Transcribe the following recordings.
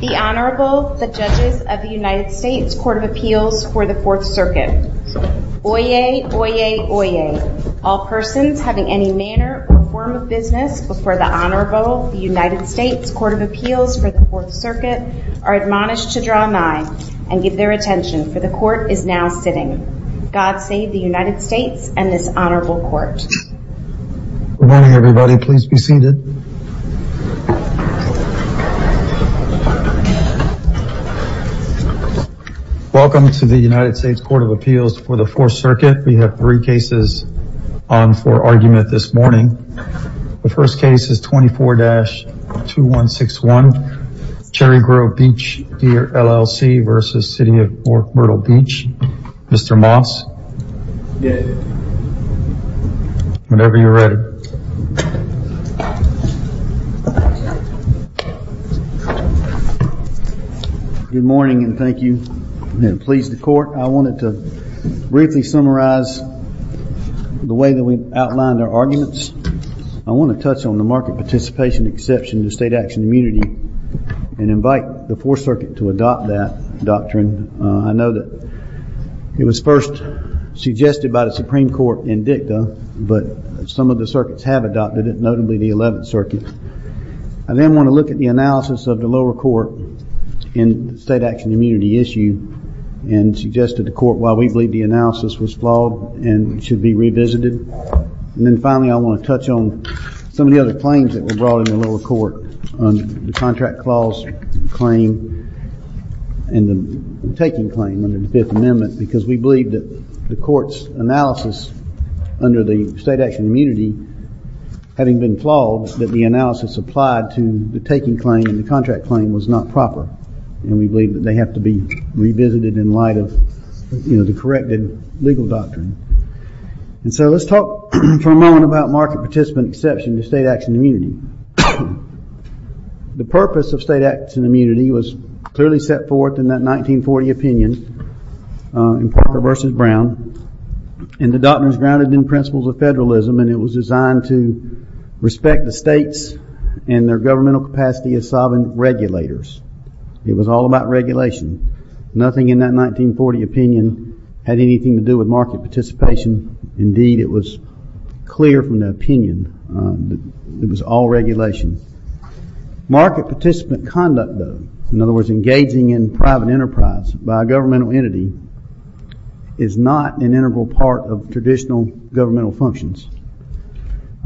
The Honorable, the Judges of the United States Court of Appeals for the Fourth Circuit. Oyez, oyez, oyez. All persons having any manner or form of business before the Honorable, the United States Court of Appeals for the Fourth Circuit are admonished to draw nigh and give their attention, for the Court is now sitting. God save the United States and this Honorable Court. Good morning everybody, please be seated. Welcome to the United States Court of Appeals for the Fourth Circuit. We have three cases on for argument this morning. The first case is 24-2161 Cherry Grove Beach Gear, LLC v. City of North Myrtle Beach. Mr. Moss, whenever you're ready. Good morning and thank you. Please the Court. I wanted to briefly summarize the way that we've outlined our arguments. I want to touch on the market participation exception to state action immunity and invite the Fourth Circuit to adopt that doctrine. I know that it was first suggested by the Supreme Court in dicta, but some of the circuits have adopted it, notably the 11th Circuit. I then want to look at the analysis of the lower court in the state action immunity issue and suggest to the Court why we believe the analysis was flawed and should be revisited. And then finally, I want to touch on some of the other claims that were brought in the lower court on the contract clause claim and the taking claim under the Fifth Amendment because we believe that the Court's analysis under the state action immunity, having been flawed, that the analysis applied to the taking claim and the contract claim was not proper. And we believe that they have to be revisited in light of the corrected legal doctrine. And so let's talk for a moment about market participant exception to state action immunity. The purpose of state action immunity was clearly set forth in that 1940 opinion in Parker v. Brown, and the doctrine is grounded in principles of federalism and it was designed to respect the states and their governmental capacity as sovereign regulators. It was all about regulation. Nothing in that 1940 opinion had anything to do with market participation. Indeed, it was clear from the opinion that it was all regulation. Market participant conduct, though, in other words, engaging in private enterprise by a governmental entity, is not an integral part of traditional governmental functions.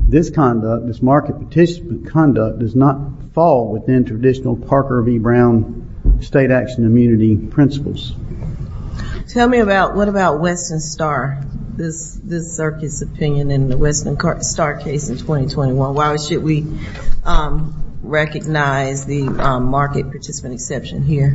This conduct, this market participant conduct, does not fall within traditional Parker v. Brown state action immunity principles. Tell me about, what about Western Star, this circuit's opinion in the Western Star case in 2021? Why should we recognize the market participant exception here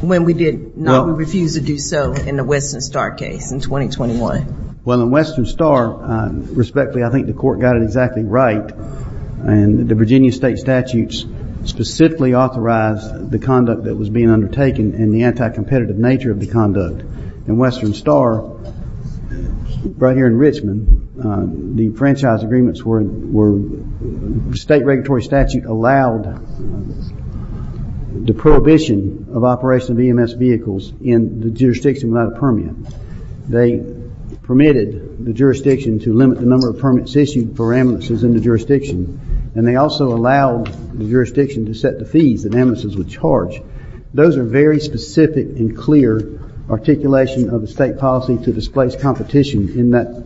when we did not, we refused to do so in the Western Star case in 2021? Well, in Western Star, respectfully, I think the Court got it exactly right, and the Virginia state statutes specifically authorized the conduct that was being undertaken and the anti-competitive nature of the conduct. In Western Star, right here in Richmond, the franchise agreements were, state regulatory statute allowed the prohibition of operation of EMS vehicles in the jurisdiction without a permit. They permitted the jurisdiction to limit the number of permits issued for ambulances in the jurisdiction, and they also allowed the jurisdiction to set the fees that ambulances would charge. Those are very specific and clear articulation of the state policy to displace competition in that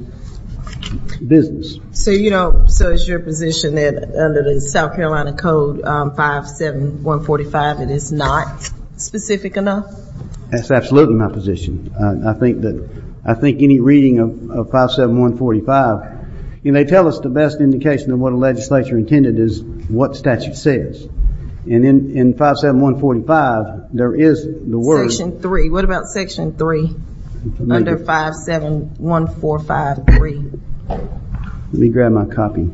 business. So you don't, so it's your position that under the South Carolina Code 57145, it is not specific enough? That's absolutely my position. I think that, I think any reading of 57145, and they tell us the best indication of what a legislature intended is what statute says. And in 57145, there is the word. Section three, what about section three? Under 571453? Let me grab my copy.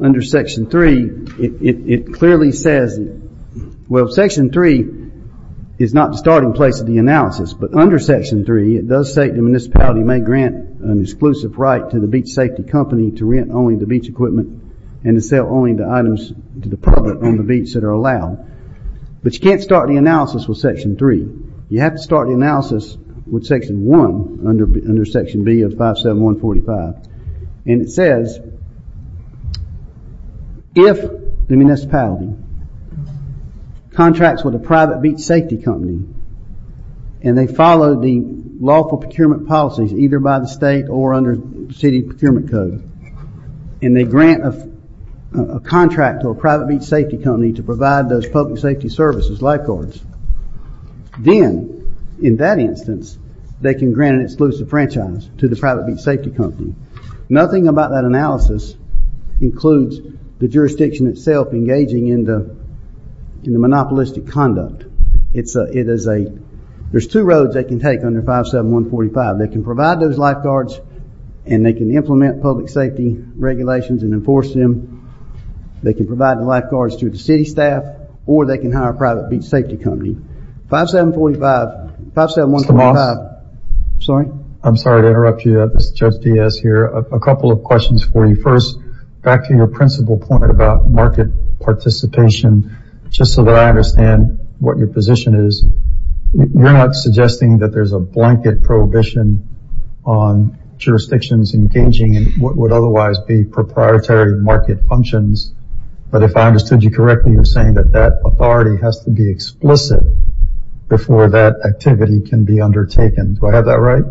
Under section three, it clearly says, well, section three is not the starting place of the analysis, but under section three, it does state the municipality may grant an exclusive right to the beach safety company to rent only the beach equipment and to sell only the items to the public on the beach that are allowed, but you can't start the analysis with section three. You have to start the analysis with section one under section B of 57145. And it says, if the municipality contracts with a private beach safety company, and they follow the lawful procurement policies either by the state or under city procurement code, and they grant a contract to a private beach safety company to provide those public safety services, lifeguards, then, in that instance, they can grant an exclusive franchise to the private beach safety company. Nothing about that analysis includes the jurisdiction itself engaging in the monopolistic conduct. There's two roads they can take under 57145. They can provide those lifeguards, and they can implement public safety regulations and enforce them. They can provide the lifeguards to the city staff, or they can hire a private beach safety company. 57145. Sorry? I'm sorry to interrupt you. This is Judge Diaz here. A couple of questions for you. First, back to your principal point about market participation, just so that I understand what your position is, you're not suggesting that there's a blanket prohibition on jurisdictions engaging in what would otherwise be proprietary market functions, but if I understood you correctly, you're saying that that authority has to be explicit before that activity can be undertaken. Do I have that right?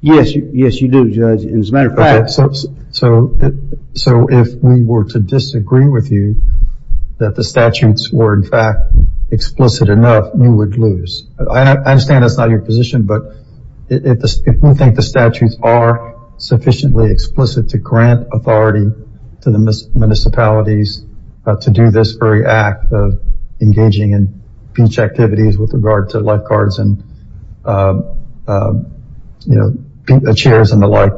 Yes, you do, Judge. As a matter of fact... Okay. So, if we were to disagree with you, that the statutes were, in fact, explicit enough, you would lose. I understand that's not your position, but if you think the statutes are sufficiently explicit to grant authority to the municipalities to do this very act of engaging in beach activities with regard to lifeguards and chairs and the like,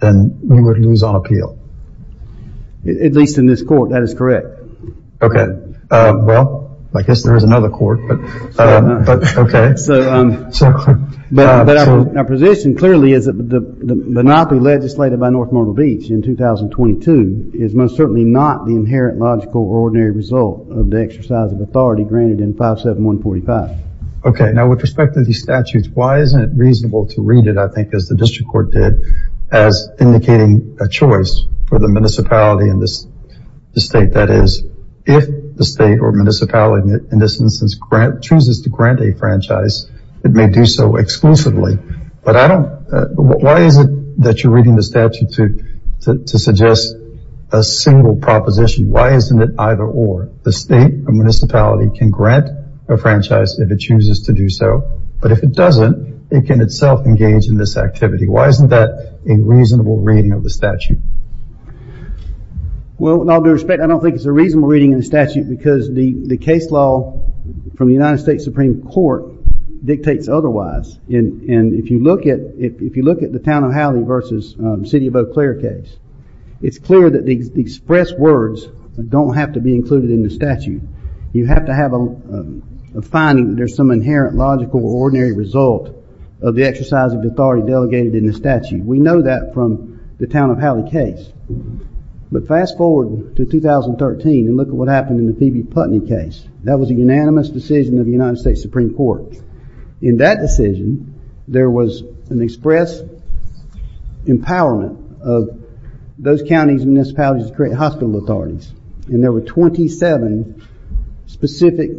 then you would lose on appeal. At least in this court, that is correct. Okay. Well, I guess there is another court, but okay. But our position clearly is that the monopoly legislated by North Myrtle Beach in 2022 is most certainly not the inherent, logical, or ordinary result of the exercise of authority granted in 57145. Okay. Now, with respect to these statutes, why isn't it reasonable to read it, I think, as the District Court did, as indicating a choice for the municipality and the state? That is, if the state or municipality, in this instance, chooses to grant a franchise, it may do so exclusively. But I don't... Why is it that you're reading the statute to suggest a single proposition? Why isn't it either or? The state or municipality can grant a franchise if it chooses to do so, but if it doesn't, it can itself engage in this activity. Why isn't that a reasonable reading of the statute? Well, in all due respect, I don't think it's a reasonable reading of the statute because the case law from the United States Supreme Court dictates otherwise. And if you look at the Town of Howley versus the City of Eau Claire case, it's clear that the expressed words don't have to be included in the statute. You have to have a finding that there's some inherent, logical, or ordinary result of the exercise of authority delegated in the statute. We know that from the Town of Howley case. But fast forward to 2013 and look at what happened in the Phoebe Putney case. That was a unanimous decision of the United States Supreme Court. In that decision, there was an express empowerment of those counties and municipalities to create hospital authorities. And there were 27 specific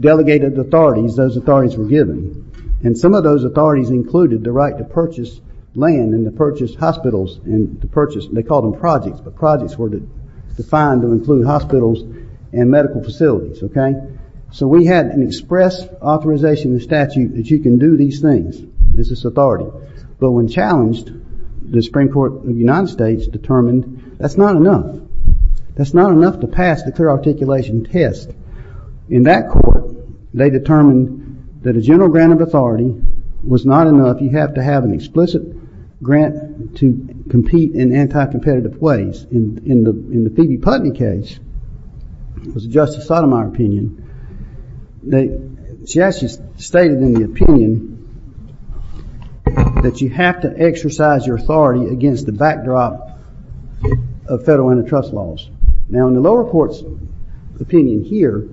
delegated authorities those authorities were given. And some of those authorities included the right to purchase land and to purchase hospitals and to purchase, they called them projects, but projects were defined to include hospitals and medical facilities, okay? So we had an express authorization in the statute that you can do these things. This is authority. But when challenged, the Supreme Court of the United States determined that's not enough. That's not enough to pass the clear articulation test. In that court, they determined that a general grant of authority was not enough. You have to have an explicit grant to compete in anti-competitive ways. In the Phoebe Putney case, it was Justice Sotomayor's opinion, she actually stated in the opinion that you have to exercise your authority against the backdrop of federal antitrust laws. Now, in the lower court's opinion here,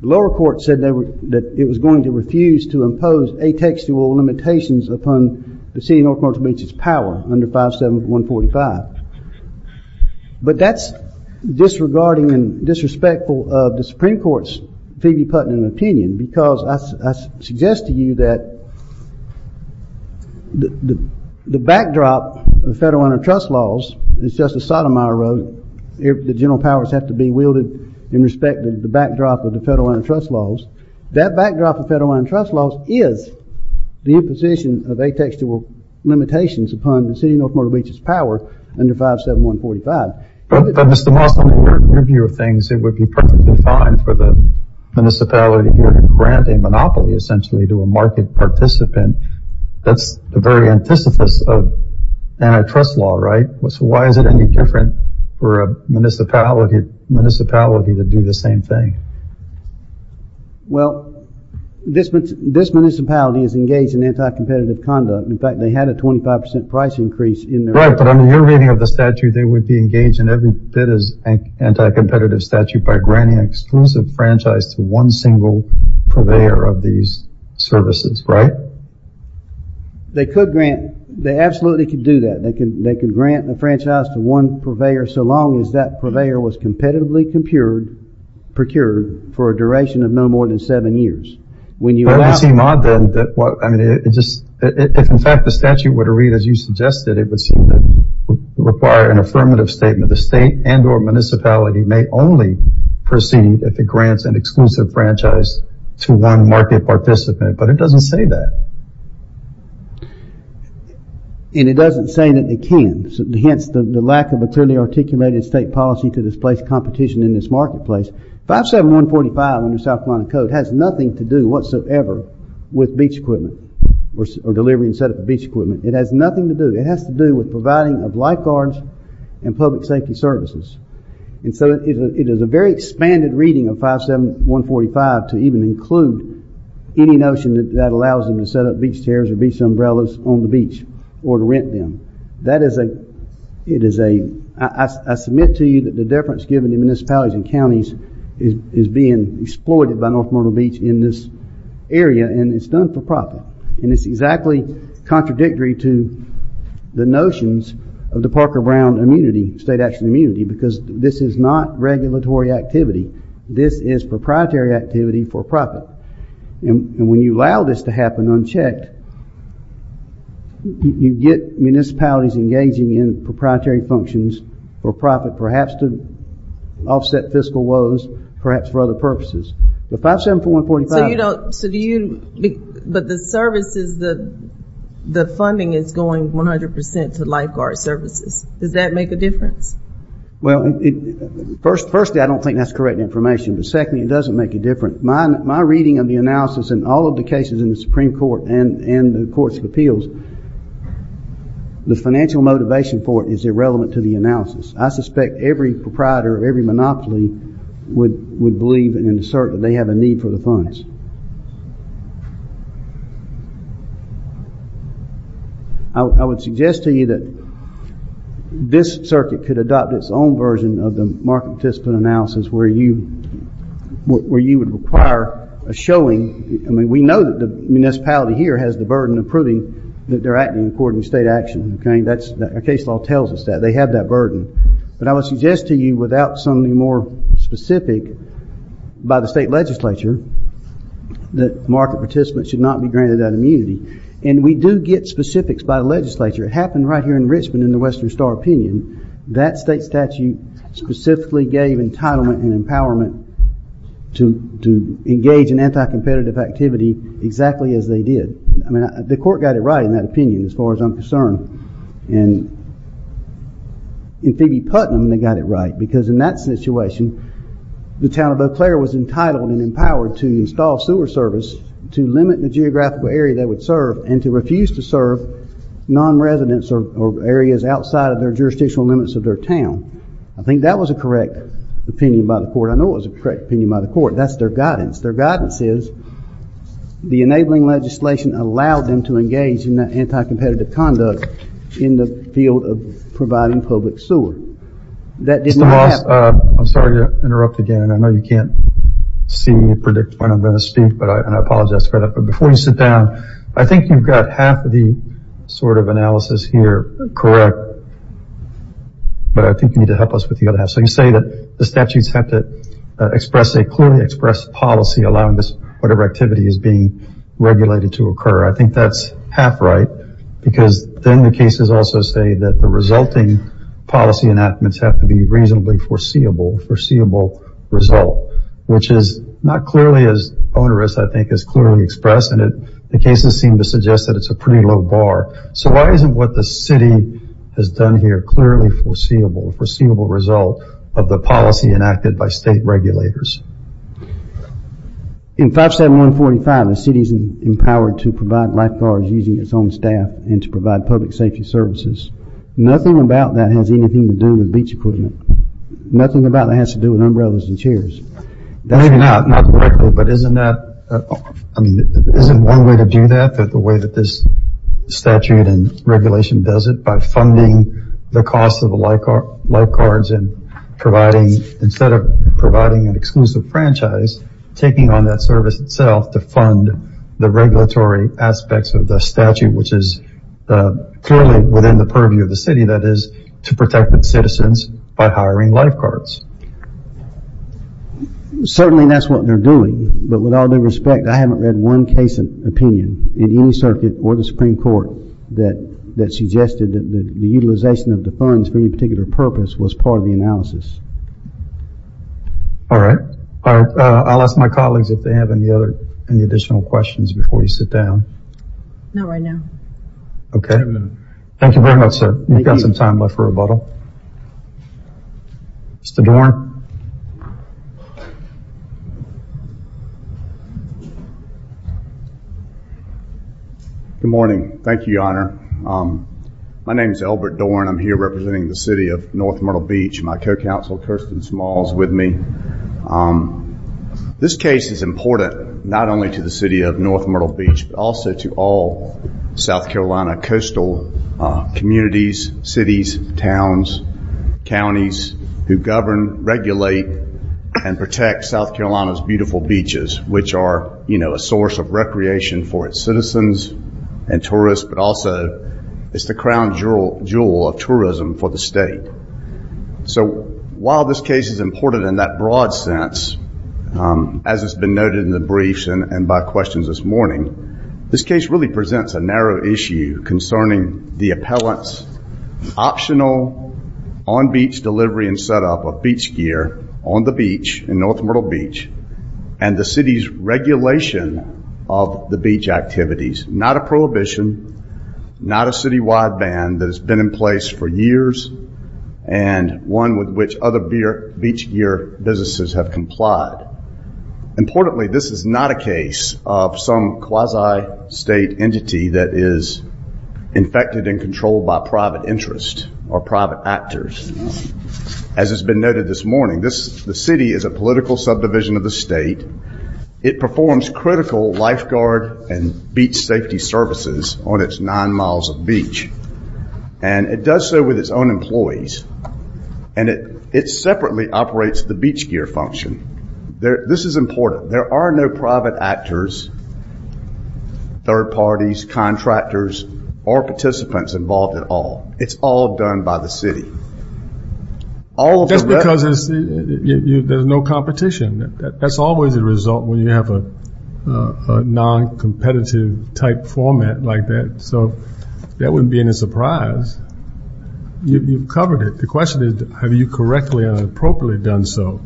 the lower court said that it was going to refuse to impose atextual limitations upon the city of North Portage Beach's power under 57145. But that's disregarding and disrespectful of the Supreme Court's Phoebe Putney opinion because I suggest to you that the backdrop of federal antitrust laws, as Justice Sotomayor wrote, the general powers have to be wielded in respect of the backdrop of the federal antitrust laws. That backdrop of federal antitrust laws is the imposition of atextual limitations upon the city of North Portage Beach's power under 57145. But, Mr. Moss, under your view of things, it would be perfectly fine for the municipality here to grant a monopoly, essentially, to a market participant. That's the very antithesis of antitrust law, right? So why is it any different for a municipality to do the same thing? Well, this municipality is engaged in anti-competitive conduct. In fact, they had a 25% price increase in their- Right. But under your reading of the statute, they would be engaged in every bit of anti-competitive statute by granting exclusive franchise to one single purveyor of these services, right? They could grant, they absolutely could do that. They could grant the franchise to one purveyor so long as that purveyor was competitively compured, procured, for a duration of no more than seven years. When you allow- That would seem odd then. If, in fact, the statute were to read as you suggested, it would seem to require an affirmative statement. The state and or municipality may only proceed if it grants an exclusive franchise to one market participant. But it doesn't say that. And it doesn't say that it can, hence the lack of a clearly articulated state policy to displace competition in this marketplace. 57145 in the South Carolina Code has nothing to do whatsoever with beach equipment or delivery and setup of beach equipment. It has nothing to do. It has to do with providing of lifeguards and public safety services. And so it is a very expanded reading of 57145 to even include any notion that that allows them to set up beach chairs or beach umbrellas on the beach or to rent them. That is a- It is a- I submit to you that the difference given to municipalities and counties is being exploited by North Myrtle Beach in this area and it's done for profit. And it's exactly contradictory to the notions of the Parker Brown immunity, state action immunity, because this is not regulatory activity. This is proprietary activity for profit. And when you allow this to happen unchecked, you get municipalities engaging in proprietary functions for profit, perhaps to offset fiscal woes, perhaps for other purposes. But 57145- So you don't- So do you- But the services, the funding is going 100% to lifeguard services. Does that make a difference? Well, firstly, I don't think that's correct information. But secondly, it doesn't make a difference. My reading of the analysis in all of the cases in the Supreme Court and the Courts of Appeals, the financial motivation for it is irrelevant to the analysis. I suspect every proprietor of every monopoly would believe and assert that they have a need for the funds. I would suggest to you that this circuit could adopt its own version of the market participant analysis, where you would require a showing. We know that the municipality here has the burden of proving that they're acting according to state action. That's- Our case law tells us that. They have that burden. But I would suggest to you, without something more specific by the state legislature, that market participants should not be granted that immunity. And we do get specifics by the legislature. It happened right here in Richmond in the Western Star opinion. That state statute specifically gave entitlement and empowerment to engage in anti-competitive activity exactly as they did. The court got it right in that opinion, as far as I'm concerned. In Phoebe Putnam, they got it right. Because in that situation, the town of Eau Claire was entitled and empowered to install sewer service to limit the geographical area they would serve and to refuse to serve non-residents or areas outside of their jurisdictional limits of their town. I think that was a correct opinion by the court. I know it was a correct opinion by the court. That's their guidance. Their guidance is, the enabling legislation allowed them to engage in that anti-competitive conduct in the field of providing public sewer. That did not happen. Mr. Moss, I'm sorry to interrupt again. I know you can't see and predict when I'm going to speak, and I apologize for that. Before you sit down, I think you've got half of the analysis here correct, but I think you need to help us with the other half. You say that the statutes have to express a clearly expressed policy allowing whatever activity is being regulated to occur. I think that's half right, because then the cases also say that the resulting policy enactments have to be reasonably foreseeable result, which is not clearly as onerous, I think, as clearly expressed, and the cases seem to suggest that it's a pretty low bar. So why isn't what the city has done here clearly foreseeable, a foreseeable result of the policy enacted by state regulators? In 57145, the city is empowered to provide lifeguards using its own staff and to provide public safety services. Nothing about that has anything to do with beach equipment. Nothing about that has to do with umbrellas and chairs. Maybe not. Not directly, but isn't that, I mean, isn't one way to do that, the way that this statute and regulation does it, by funding the cost of the lifeguards and providing, instead of providing an exclusive franchise, taking on that service itself to fund the regulatory aspects of the statute, which is clearly within the purview of the city, that is, to protect its citizens by hiring lifeguards. Certainly, that's what they're doing, but with all due respect, I haven't read one case of opinion in any circuit or the Supreme Court that suggested that the utilization of the funds for any particular purpose was part of the analysis. All right. All right. I'll ask my colleagues if they have any other, any additional questions before you sit down. Not right now. Okay. Thank you very much, sir. Thank you. We've got some time left for rebuttal. Mr. Dorn. Good morning. Thank you, Your Honor. My name is Albert Dorn. I'm here representing the city of North Myrtle Beach. My co-counsel, Kirsten Smalls, is with me. This case is important, not only to the city of North Myrtle Beach, but also to all South counties who govern, regulate, and protect South Carolina's beautiful beaches, which are a source of recreation for its citizens and tourists, but also it's the crown jewel of tourism for the state. While this case is important in that broad sense, as has been noted in the briefs and by questions this morning, this case really presents a narrow issue concerning the appellant's optional on-beach delivery and setup of beach gear on the beach in North Myrtle Beach and the city's regulation of the beach activities. Not a prohibition, not a city-wide ban that has been in place for years and one with which other beach gear businesses have complied. Importantly, this is not a case of some quasi-state entity that is infected and controlled by private interest or private actors. As has been noted this morning, the city is a political subdivision of the state. It performs critical lifeguard and beach safety services on its nine miles of beach. It does so with its own employees. It separately operates the beach gear function. This is important. There are no private actors, third parties, contractors, or participants involved at all. It's all done by the city. All of the- That's because there's no competition. That's always the result when you have a non-competitive type format like that. So that wouldn't be any surprise. You've covered it. The question is, have you correctly and appropriately done so?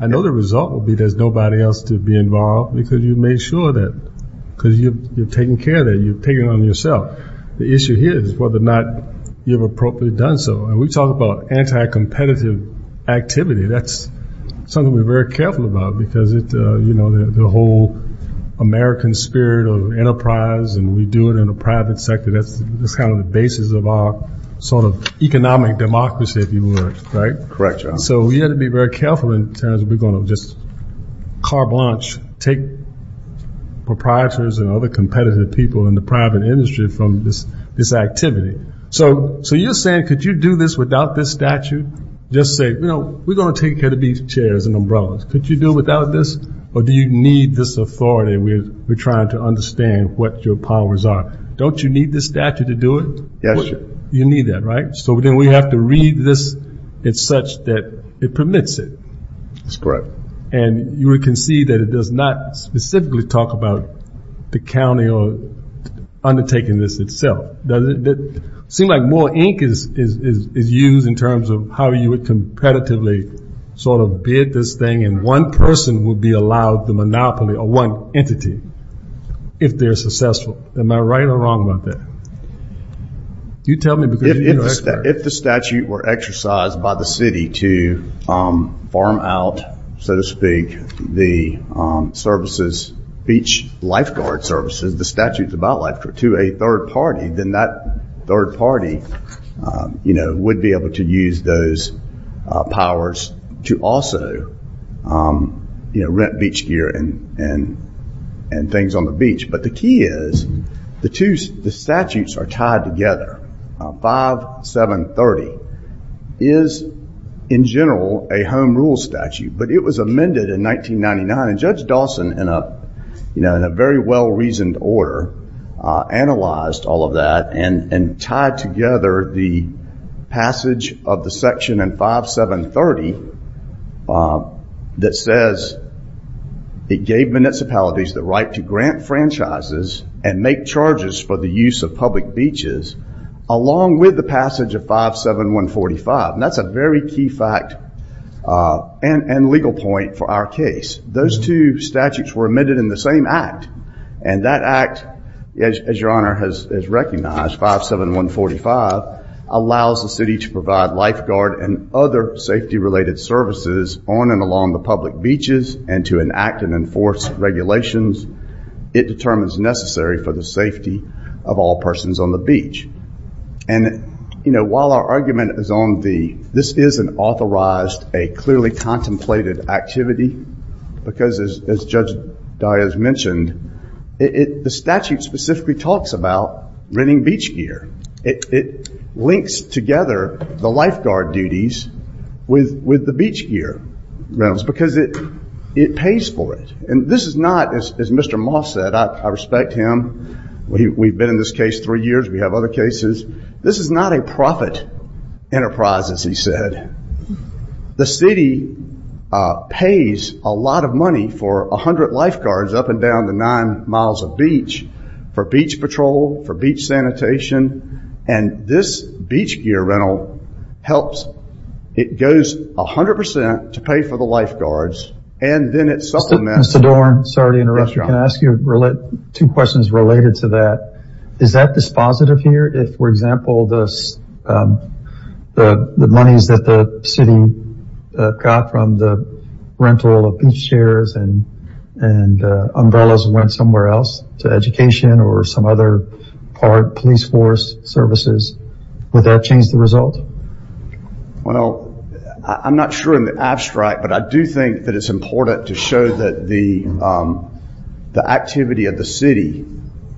I know the result will be there's nobody else to be involved because you've made sure that because you've taken care of that, you've taken it on yourself. The issue here is whether or not you've appropriately done so. We talk about anti-competitive activity. That's something we're very careful about because the whole American spirit of enterprise and we do it in a private sector, that's kind of the basis of our sort of economic democracy, if you will. Right? Correct, John. So we have to be very careful in terms of we're going to just carte blanche, take proprietors and other competitive people in the private industry from this activity. So you're saying, could you do this without this statute? Just say, we're going to take care of these chairs and umbrellas. Could you do it without this or do you need this authority? We're trying to understand what your powers are. Don't you need this statute to do it? Yes, sir. You need that, right? So then we have to read this as such that it permits it. That's correct. And you would concede that it does not specifically talk about the county undertaking this itself. It seems like more ink is used in terms of how you would competitively sort of bid this thing and one person would be allowed the monopoly or one entity if they're successful. Am I right or wrong about that? You tell me. If the statute were exercised by the city to farm out, so to speak, the services, beach lifeguard services, the statutes about lifeguards to a third party, then that third party would be able to use those powers to also rent beach gear and things on the beach. But the key is the two statutes are tied together, 5730 is, in general, a home rule statute. But it was amended in 1999 and Judge Dawson, in a very well-reasoned order, analyzed all of that and tied together the passage of the section in 5730 that says it gave municipalities the right to grant franchises and make charges for the use of public beaches along with the passage of 57145. That's a very key fact and legal point for our case. Those two statutes were amended in the same act. And that act, as your honor has recognized, 57145, allows the city to provide lifeguard and other safety related services on and along the public beaches and to enact and enforce regulations it determines necessary for the safety of all persons on the beach. While our argument is on this is an authorized, a clearly contemplated activity, because as Judge Diaz mentioned, the statute specifically talks about renting beach gear. It links together the lifeguard duties with the beach gear rentals because it pays for it. And this is not, as Mr. Moss said, I respect him, we've been in this case three years, we have other cases, this is not a profit enterprise, as he said. The city pays a lot of money for 100 lifeguards up and down the nine miles of beach for beach patrol, for beach sanitation, and this beach gear rental helps, it goes 100% to pay for the lifeguards, and then it supplements. Mr. Dorn, sorry to interrupt you, can I ask you two questions related to that. Is that dispositive here, if, for example, the monies that the city got from the rental of beach chairs and umbrellas went somewhere else, to education or some other part, police force services, would that change the result? Well, I'm not sure in the abstract, but I do think that it's important to show that the activity of the city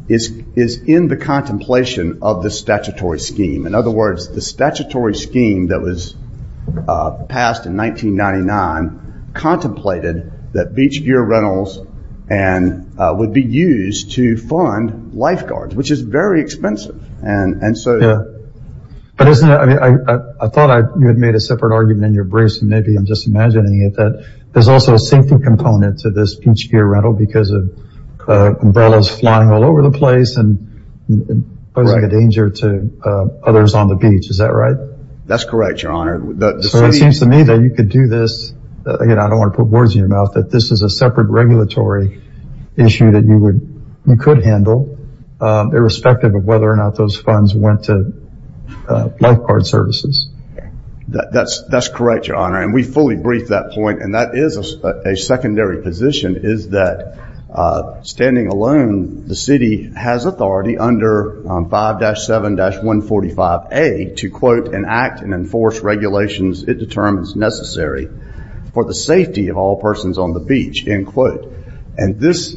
is in the contemplation of the statutory scheme. In other words, the statutory scheme that was passed in 1999 contemplated that beach gear rentals would be used to fund lifeguards, which is very expensive. Yeah, but isn't it, I thought you had made a separate argument in your briefs, and maybe I'm just imagining it, that there's also a safety component to this beach gear rental because of umbrellas flying all over the place and posing a danger to others on the beach. Is that right? That's correct, your honor. So it seems to me that you could do this, again, I don't want to put words in your mouth, that this is a separate regulatory issue that you could handle, irrespective of whether or not those funds went to lifeguard services. That's correct, your honor. And we fully briefed that point, and that is a secondary position, is that standing alone, the city has authority under 5-7-145A to, quote, enact and enforce regulations it determines necessary for the safety of all persons on the beach, end quote. And this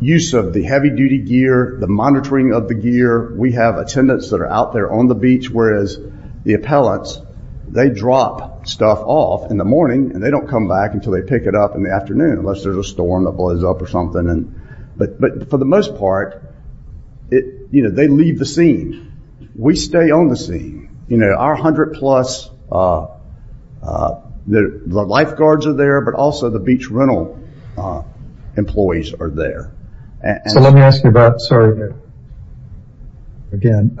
use of the heavy-duty gear, the monitoring of the gear, we have attendants that are out there on the beach, whereas the appellants, they drop stuff off in the morning and they don't come back until they pick it up in the afternoon, unless there's a storm that blows up or something. But for the most part, they leave the scene. We stay on the scene. Our 100-plus, the lifeguards are there, but also the beach rental employees are there. So let me ask you about, sorry, again,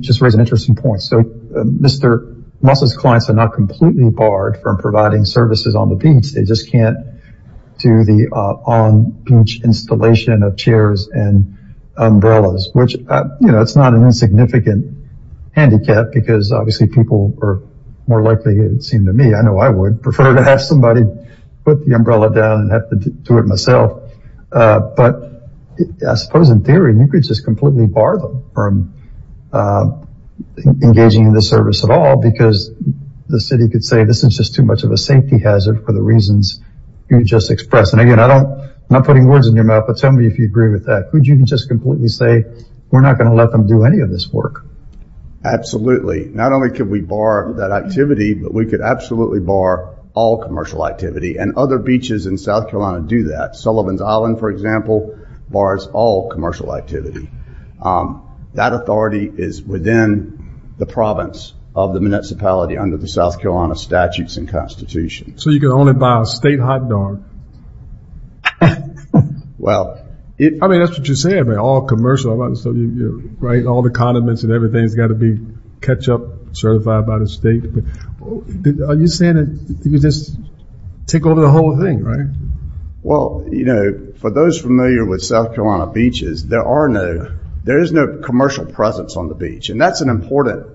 just raise an interesting point. So Mr. Mussel's clients are not completely barred from providing services on the beach, they just can't do the on-beach installation of chairs and umbrellas, which, you know, that's not an insignificant handicap because, obviously, people are more likely, it seemed to me, I know I would prefer to have somebody put the umbrella down and have to do it myself. But I suppose, in theory, you could just completely bar them from engaging in the service at all because the city could say this is just too much of a safety hazard for the reasons you just expressed. And again, I'm not putting words in your mouth, but tell me if you agree with that. Could you just completely say, we're not going to let them do any of this work? Absolutely. Not only could we bar that activity, but we could absolutely bar all commercial activity. And other beaches in South Carolina do that. Sullivan's Island, for example, bars all commercial activity. That authority is within the province of the municipality under the South Carolina statutes and constitution. So you can only buy a state hot dog. Well, I mean, that's what you're saying, all commercial, right? All the condiments and everything's got to be ketchup certified by the state. Are you saying that you just take over the whole thing, right? Well, you know, for those familiar with South Carolina beaches, there is no commercial presence on the beach. And that's an important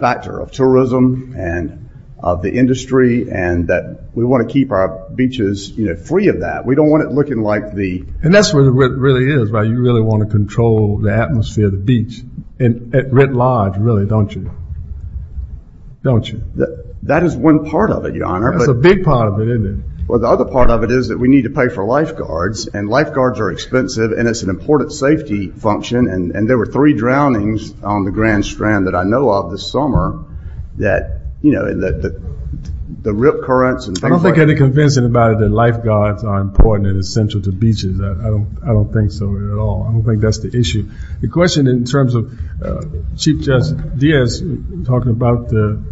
factor of tourism and of the industry and that we want to keep our beaches free of that. We don't want it looking like the... And that's what it really is, right? You really want to control the atmosphere of the beach at writ large, really, don't you? Don't you? That is one part of it, Your Honor. That's a big part of it, isn't it? Well, the other part of it is that we need to pay for lifeguards and lifeguards are expensive and it's an important safety function. And there were three drownings on the Grand Strand that I know of this summer that, you know, the rip currents and things like that. I don't think any convincing about it that lifeguards are important and essential to beaches. I don't think so at all. I don't think that's the issue. The question in terms of Chief Justice Diaz talking about the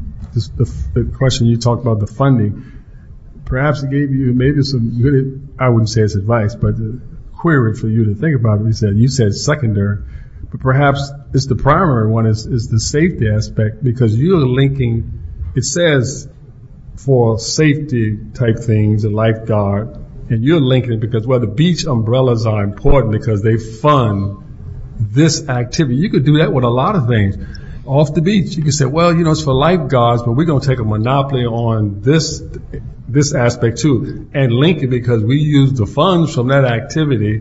question you talked about the funding, perhaps it gave you maybe some good, I wouldn't say it's advice, but a query for you to think about. You said it's secondary, but perhaps it's the primary one is the safety aspect because you're linking, it says for safety type things, a lifeguard, and you're linking it because well, the beach umbrellas are important because they fund this activity. You could do that with a lot of things. Off the beach, you could say, well, you know, it's for lifeguards, but we're going to take a monopoly on this aspect too and link it because we use the funds from that activity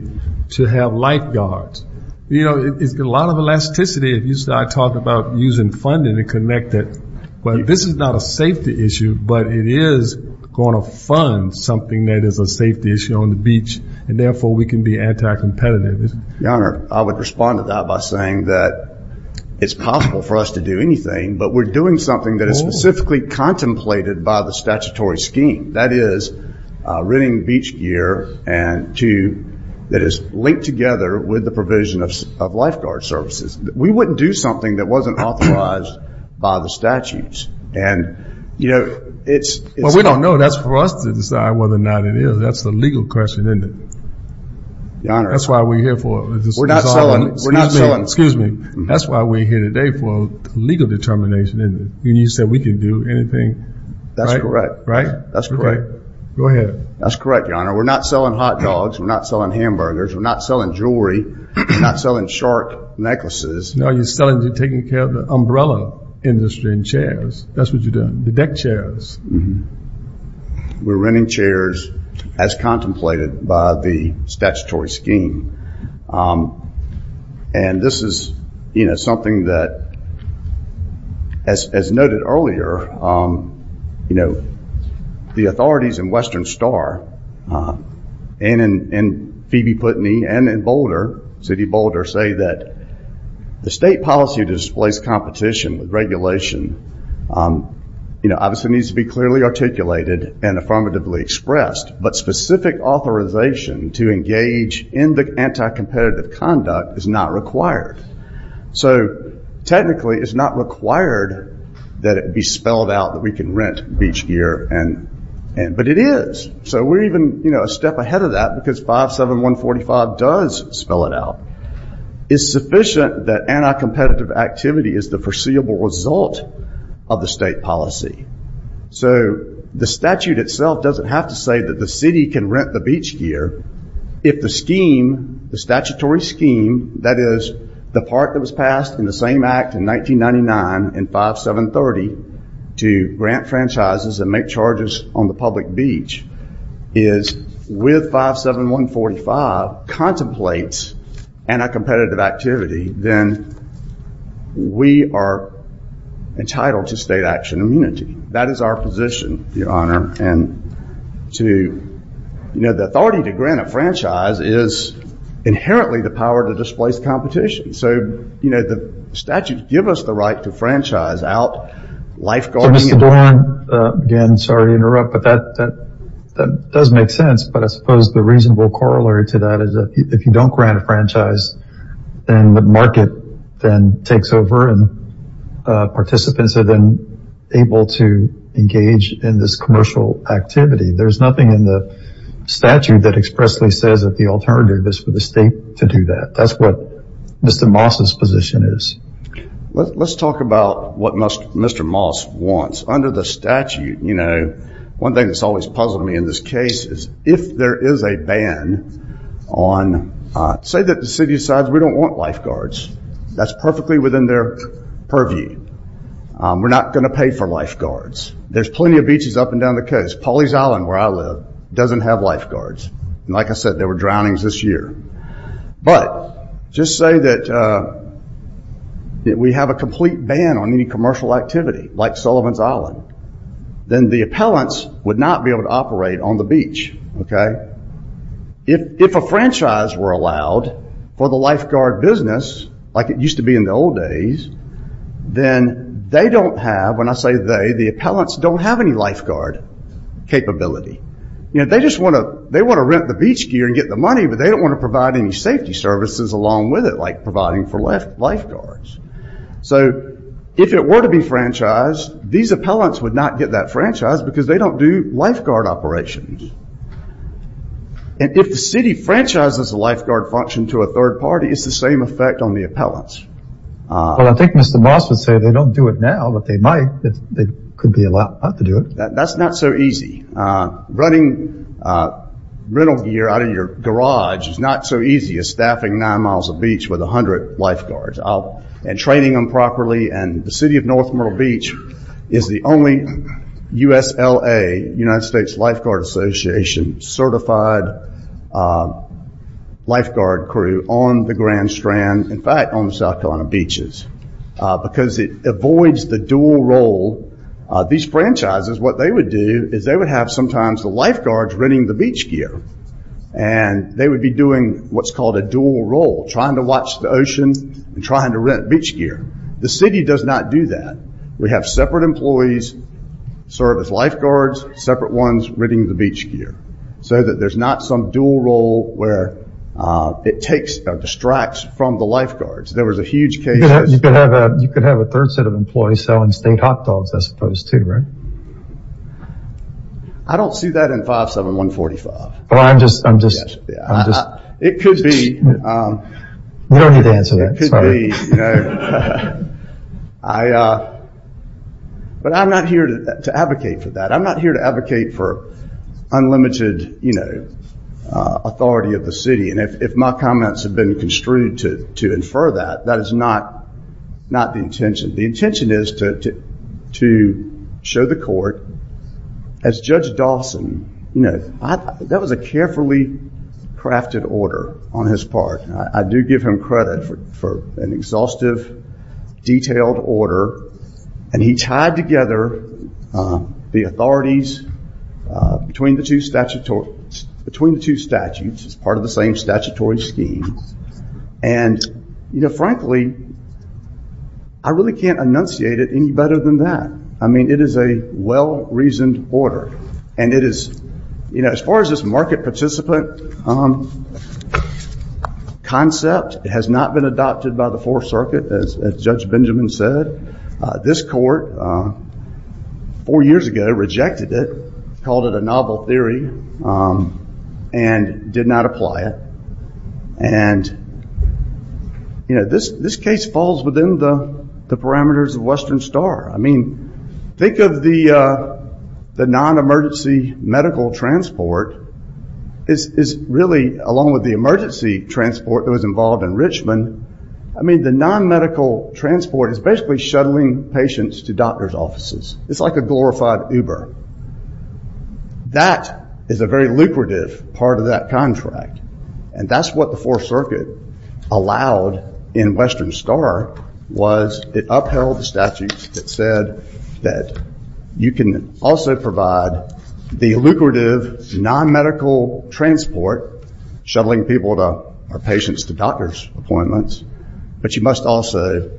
to have lifeguards. You know, a lot of elasticity, I talked about using funding to connect it, but this is not a safety issue, but it is going to fund something that is a safety issue on the beach, and therefore we can be anti-competitive. Your Honor, I would respond to that by saying that it's possible for us to do anything, but we're doing something that is specifically contemplated by the statutory scheme. That is renting beach gear that is linked together with the provision of lifeguard services. We wouldn't do something that wasn't authorized by the statutes, and, you know, it's... Well, we don't know. That's for us to decide whether or not it is. That's the legal question, isn't it? Your Honor... That's why we're here for... We're not selling... Excuse me. We're not selling... Excuse me. That's why we're here today for legal determination, isn't it? You said we can do anything, right? That's correct. Right? That's correct. Okay. Go ahead. That's correct, Your Honor. We're not selling hot dogs. We're not selling hamburgers. We're not selling jewelry. We're not selling short necklaces. No, you're selling... You're taking care of the umbrella industry and chairs. That's what you're doing. The deck chairs. We're renting chairs as contemplated by the statutory scheme. And this is something that, as noted earlier, the authorities in Western Star and in Phoebe Putney and in Boulder, City of Boulder, say that the state policy to displace competition with regulation obviously needs to be clearly articulated and affirmatively expressed. But specific authorization to engage in the anti-competitive conduct is not required. So technically, it's not required that it be spelled out that we can rent beach gear. But it is. So we're even a step ahead of that because 57145 does spell it out. It's sufficient that anti-competitive activity is the foreseeable result of the state policy. So the statute itself doesn't have to say that the city can rent the beach gear. If the scheme, the statutory scheme, that is the part that was passed in the same act in 1999 in 5730 to grant franchises and make charges on the public beach, is with 57145 states anti-competitive activity, then we are entitled to state action immunity. That is our position, your honor. And the authority to grant a franchise is inherently the power to displace competition. So the statute gives us the right to franchise out lifeguarding and- So Mr. Doran, again, sorry to interrupt, but that does make sense. But I suppose the reasonable corollary to that is if you don't grant a franchise, then the market then takes over and participants are then able to engage in this commercial activity. There's nothing in the statute that expressly says that the alternative is for the state to do that. That's what Mr. Moss's position is. Let's talk about what Mr. Moss wants. Under the statute, you know, one thing that's always puzzled me in this case is if there is a ban on, say that the city decides we don't want lifeguards, that's perfectly within their purview. We're not going to pay for lifeguards. There's plenty of beaches up and down the coast. Pawleys Island, where I live, doesn't have lifeguards. Like I said, there were drownings this year. But just say that we have a complete ban on any commercial activity, like Sullivan's Island, then the appellants would not be able to operate on the beach. If a franchise were allowed for the lifeguard business, like it used to be in the old days, then they don't have, when I say they, the appellants don't have any lifeguard capability. They just want to rent the beach gear and get the money, but they don't want to provide any safety services along with it, like providing for lifeguards. So if it were to be franchised, these appellants would not get that franchise because they don't do lifeguard operations. And if the city franchises the lifeguard function to a third party, it's the same effect on the appellants. Well, I think Mr. Moss would say they don't do it now, but they might. They could be allowed to do it. That's not so easy. Running rental gear out of your garage is not so easy as staffing nine miles of beach with a hundred lifeguards, and training them properly, and the city of North Myrtle Beach is the only USLA, United States Lifeguard Association, certified lifeguard crew on the Grand Strand, in fact, on the South Carolina beaches, because it avoids the dual role. These franchises, what they would do is they would have sometimes the lifeguards renting the beach gear, and they would be doing what's called a dual role, trying to watch the ocean and trying to rent beach gear. The city does not do that. We have separate employees serve as lifeguards, separate ones renting the beach gear, so that there's not some dual role where it takes or distracts from the lifeguards. There was a huge case. You could have a third set of employees selling state hot dogs, I suppose, too, right? I don't see that in 57145. It could be, but I'm not here to advocate for that. I'm not here to advocate for unlimited authority of the city, and if my comments have been construed to infer that, that is not the intention. The intention is to show the court, as Judge Dawson, that was a carefully crafted order on his part. I do give him credit for an exhaustive, detailed order, and he tied together the authorities between the two statutes as part of the same statutory scheme, and frankly, I really can't enunciate it any better than that. It is a well-reasoned order, and as far as this market participant concept, it has not been adopted by the Fourth Circuit, as Judge Benjamin said. This court, four years ago, rejected it, called it a novel theory, and did not apply it. This case falls within the parameters of Western Star. Think of the non-emergency medical transport, along with the emergency transport that was involved in Richmond. The non-medical transport is basically shuttling patients to doctor's offices. It's like a glorified Uber. That is a very lucrative part of that contract, and that's what the Fourth Circuit allowed in Western Star, was it upheld the statute that said that you can also provide the lucrative non-medical transport, shuttling people or patients to doctor's appointments, but you must also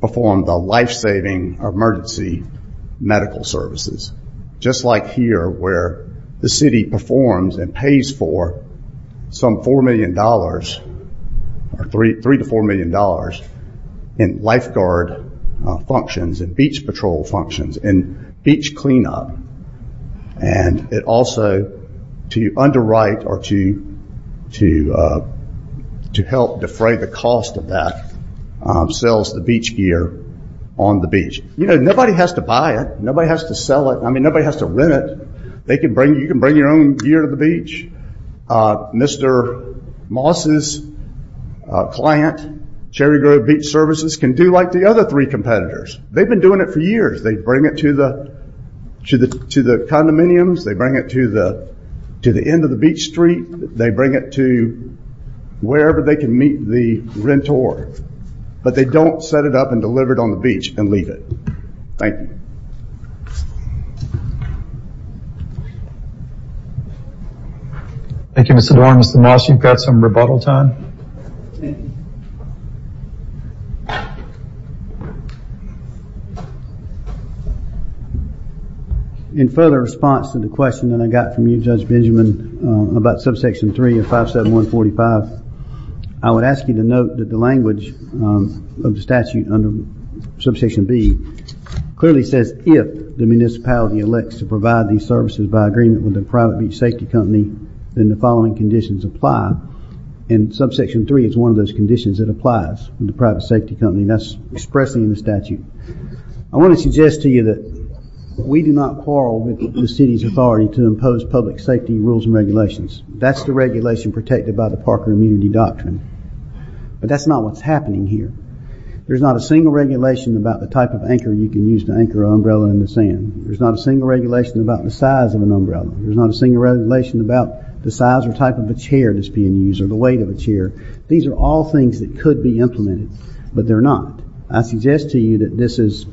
perform the life-saving emergency medical services, just like here, where the city performs and pays for some $4 million, or $3 to $4 million, in lifeguard functions and beach patrol functions and beach cleanup. It also, to underwrite or to help defray the cost of that, sells the beach gear on the beach. Nobody has to buy it. Nobody has to sell it. I mean, nobody has to rent it. They can bring, you can bring your own gear to the beach. Mr. Moss's client, Cherry Grove Beach Services, can do like the other three competitors. They've been doing it for years. They bring it to the condominiums. They bring it to the end of the beach street. They bring it to wherever they can meet the renter, but they don't set it up and deliver it on the beach and leave it. Thank you. Thank you, Mr. Doran. Mr. Moss, you've got some rebuttal time. Thank you. In further response to the question that I got from you, Judge Benjamin, about Subsection 3 of 57145, I would ask you to note that the language of the statute under Subsection B clearly says, if the municipality elects to provide these services by agreement with the Subsection 3, it's one of those conditions that applies in the private safety company. That's expressed in the statute. I want to suggest to you that we do not quarrel with the city's authority to impose public safety rules and regulations. That's the regulation protected by the Parker Immunity Doctrine, but that's not what's happening here. There's not a single regulation about the type of anchor you can use to anchor an umbrella in the sand. There's not a single regulation about the size of an umbrella. There's not a single regulation about the size or type of a chair that's being used or the weight of a chair. These are all things that could be implemented, but they're not. I suggest to you that this is,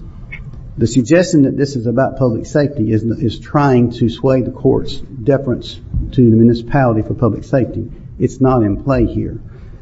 the suggestion that this is about public safety is trying to sway the court's deference to the municipality for public safety. It's not in play here.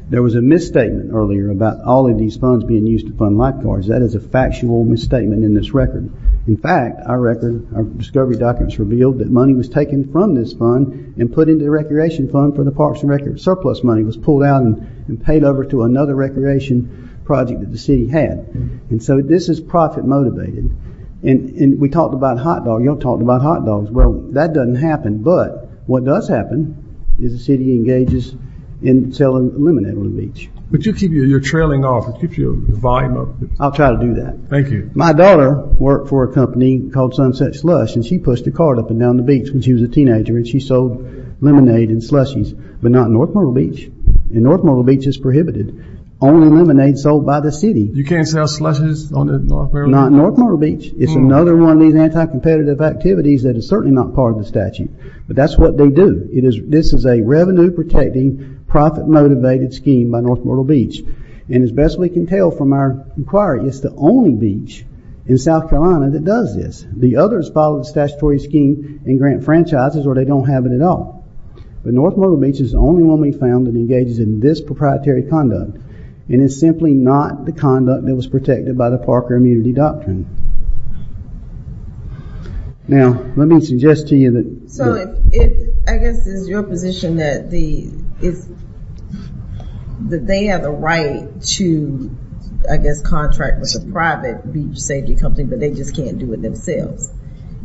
There was a misstatement earlier about all of these funds being used to fund lifeguards. That is a factual misstatement in this record. In fact, our record, our discovery documents revealed that money was taken from this fund and put into the recreation fund for the parks and rec surplus money was pulled out and paid over to another recreation project that the city had. This is profit motivated. We talked about hot dogs. You all talked about hot dogs. Well, that doesn't happen, but what does happen is the city engages in selling lemonade on the beach. But you keep your trailing off. It keeps your volume up. I'll try to do that. Thank you. My daughter worked for a company called Sunset Slush, and she pushed a cart up and down the streets when she was a teenager, and she sold lemonade and slushies, but not North Myrtle Beach. And North Myrtle Beach is prohibited. Only lemonade sold by the city. You can't sell slushies on the North Myrtle Beach? Not North Myrtle Beach. It's another one of these anti-competitive activities that is certainly not part of the But that's what they do. This is a revenue-protecting, profit-motivated scheme by North Myrtle Beach, and as best we can tell from our inquiry, it's the only beach in South Carolina that does this. The others follow the statutory scheme and grant franchises, or they don't have it at all. But North Myrtle Beach is the only one we've found that engages in this proprietary conduct and is simply not the conduct that was protected by the Parker Immunity Doctrine. Now, let me suggest to you that- So I guess it's your position that they have a right to, I guess, contract with a private beach safety company, but they just can't do it themselves.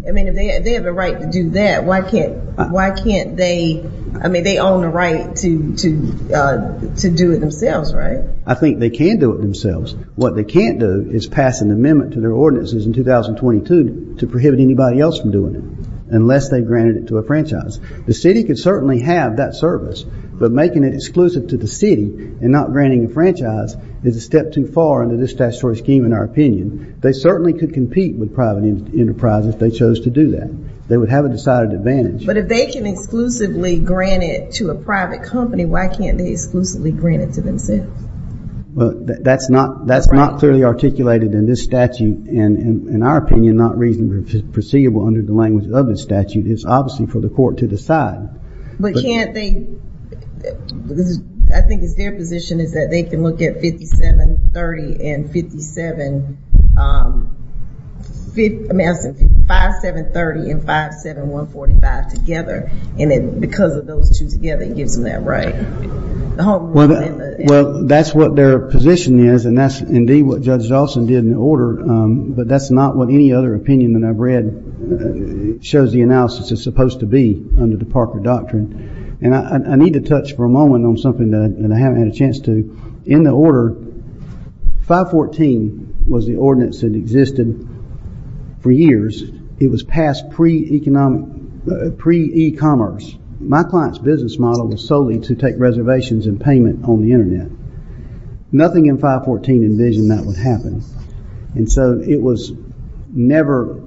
I mean, if they have a right to do that, why can't they- I mean, they own the right to do it themselves, right? I think they can do it themselves. What they can't do is pass an amendment to their ordinances in 2022 to prohibit anybody else from doing it, unless they've granted it to a franchise. The city could certainly have that service, but making it exclusive to the city and not granting a franchise is a step too far under this statutory scheme, in our opinion. They certainly could compete with private enterprises if they chose to do that. They would have a decided advantage. But if they can exclusively grant it to a private company, why can't they exclusively grant it to themselves? That's not clearly articulated in this statute, and in our opinion, not reasonably perceivable under the language of this statute. It's obviously for the court to decide. But can't they- I think it's their position is that they can look at 5730 and 57- I'm asking 5730 and 57145 together, and then because of those two together, it gives them that right. Well, that's what their position is, and that's indeed what Judge Dawson did in the order, but that's not what any other opinion that I've read shows the analysis is supposed to be under the Parker Doctrine. And I need to touch for a moment on something that I haven't had a chance to. In the order, 514 was the ordinance that existed for years. It was passed pre-e-commerce. My client's business model was solely to take reservations and payment on the internet. Nothing in 514 envisioned that would happen, and so it was never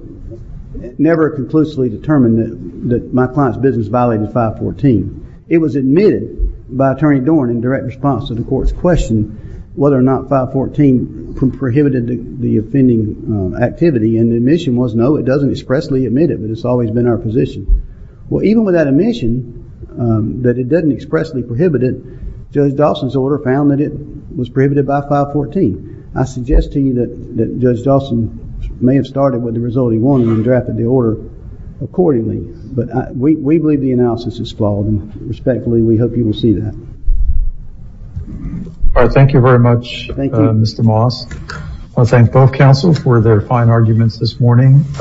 conclusively determined that my client's business violated 514. It was admitted by Attorney Dorn in direct response to the court's question whether or not 514 prohibited the offending activity, and the admission was no, it doesn't expressly admit it, but it's always been our position. Well, even with that admission, that it doesn't expressly prohibit it, Judge Dawson's order found that it was prohibited by 514. I suggest to you that Judge Dawson may have started with the result he wanted and drafted the order accordingly. But we believe the analysis is flawed, and respectfully, we hope you will see that. Thank you very much, Mr. Moss. I thank both counsels for their fine arguments this morning.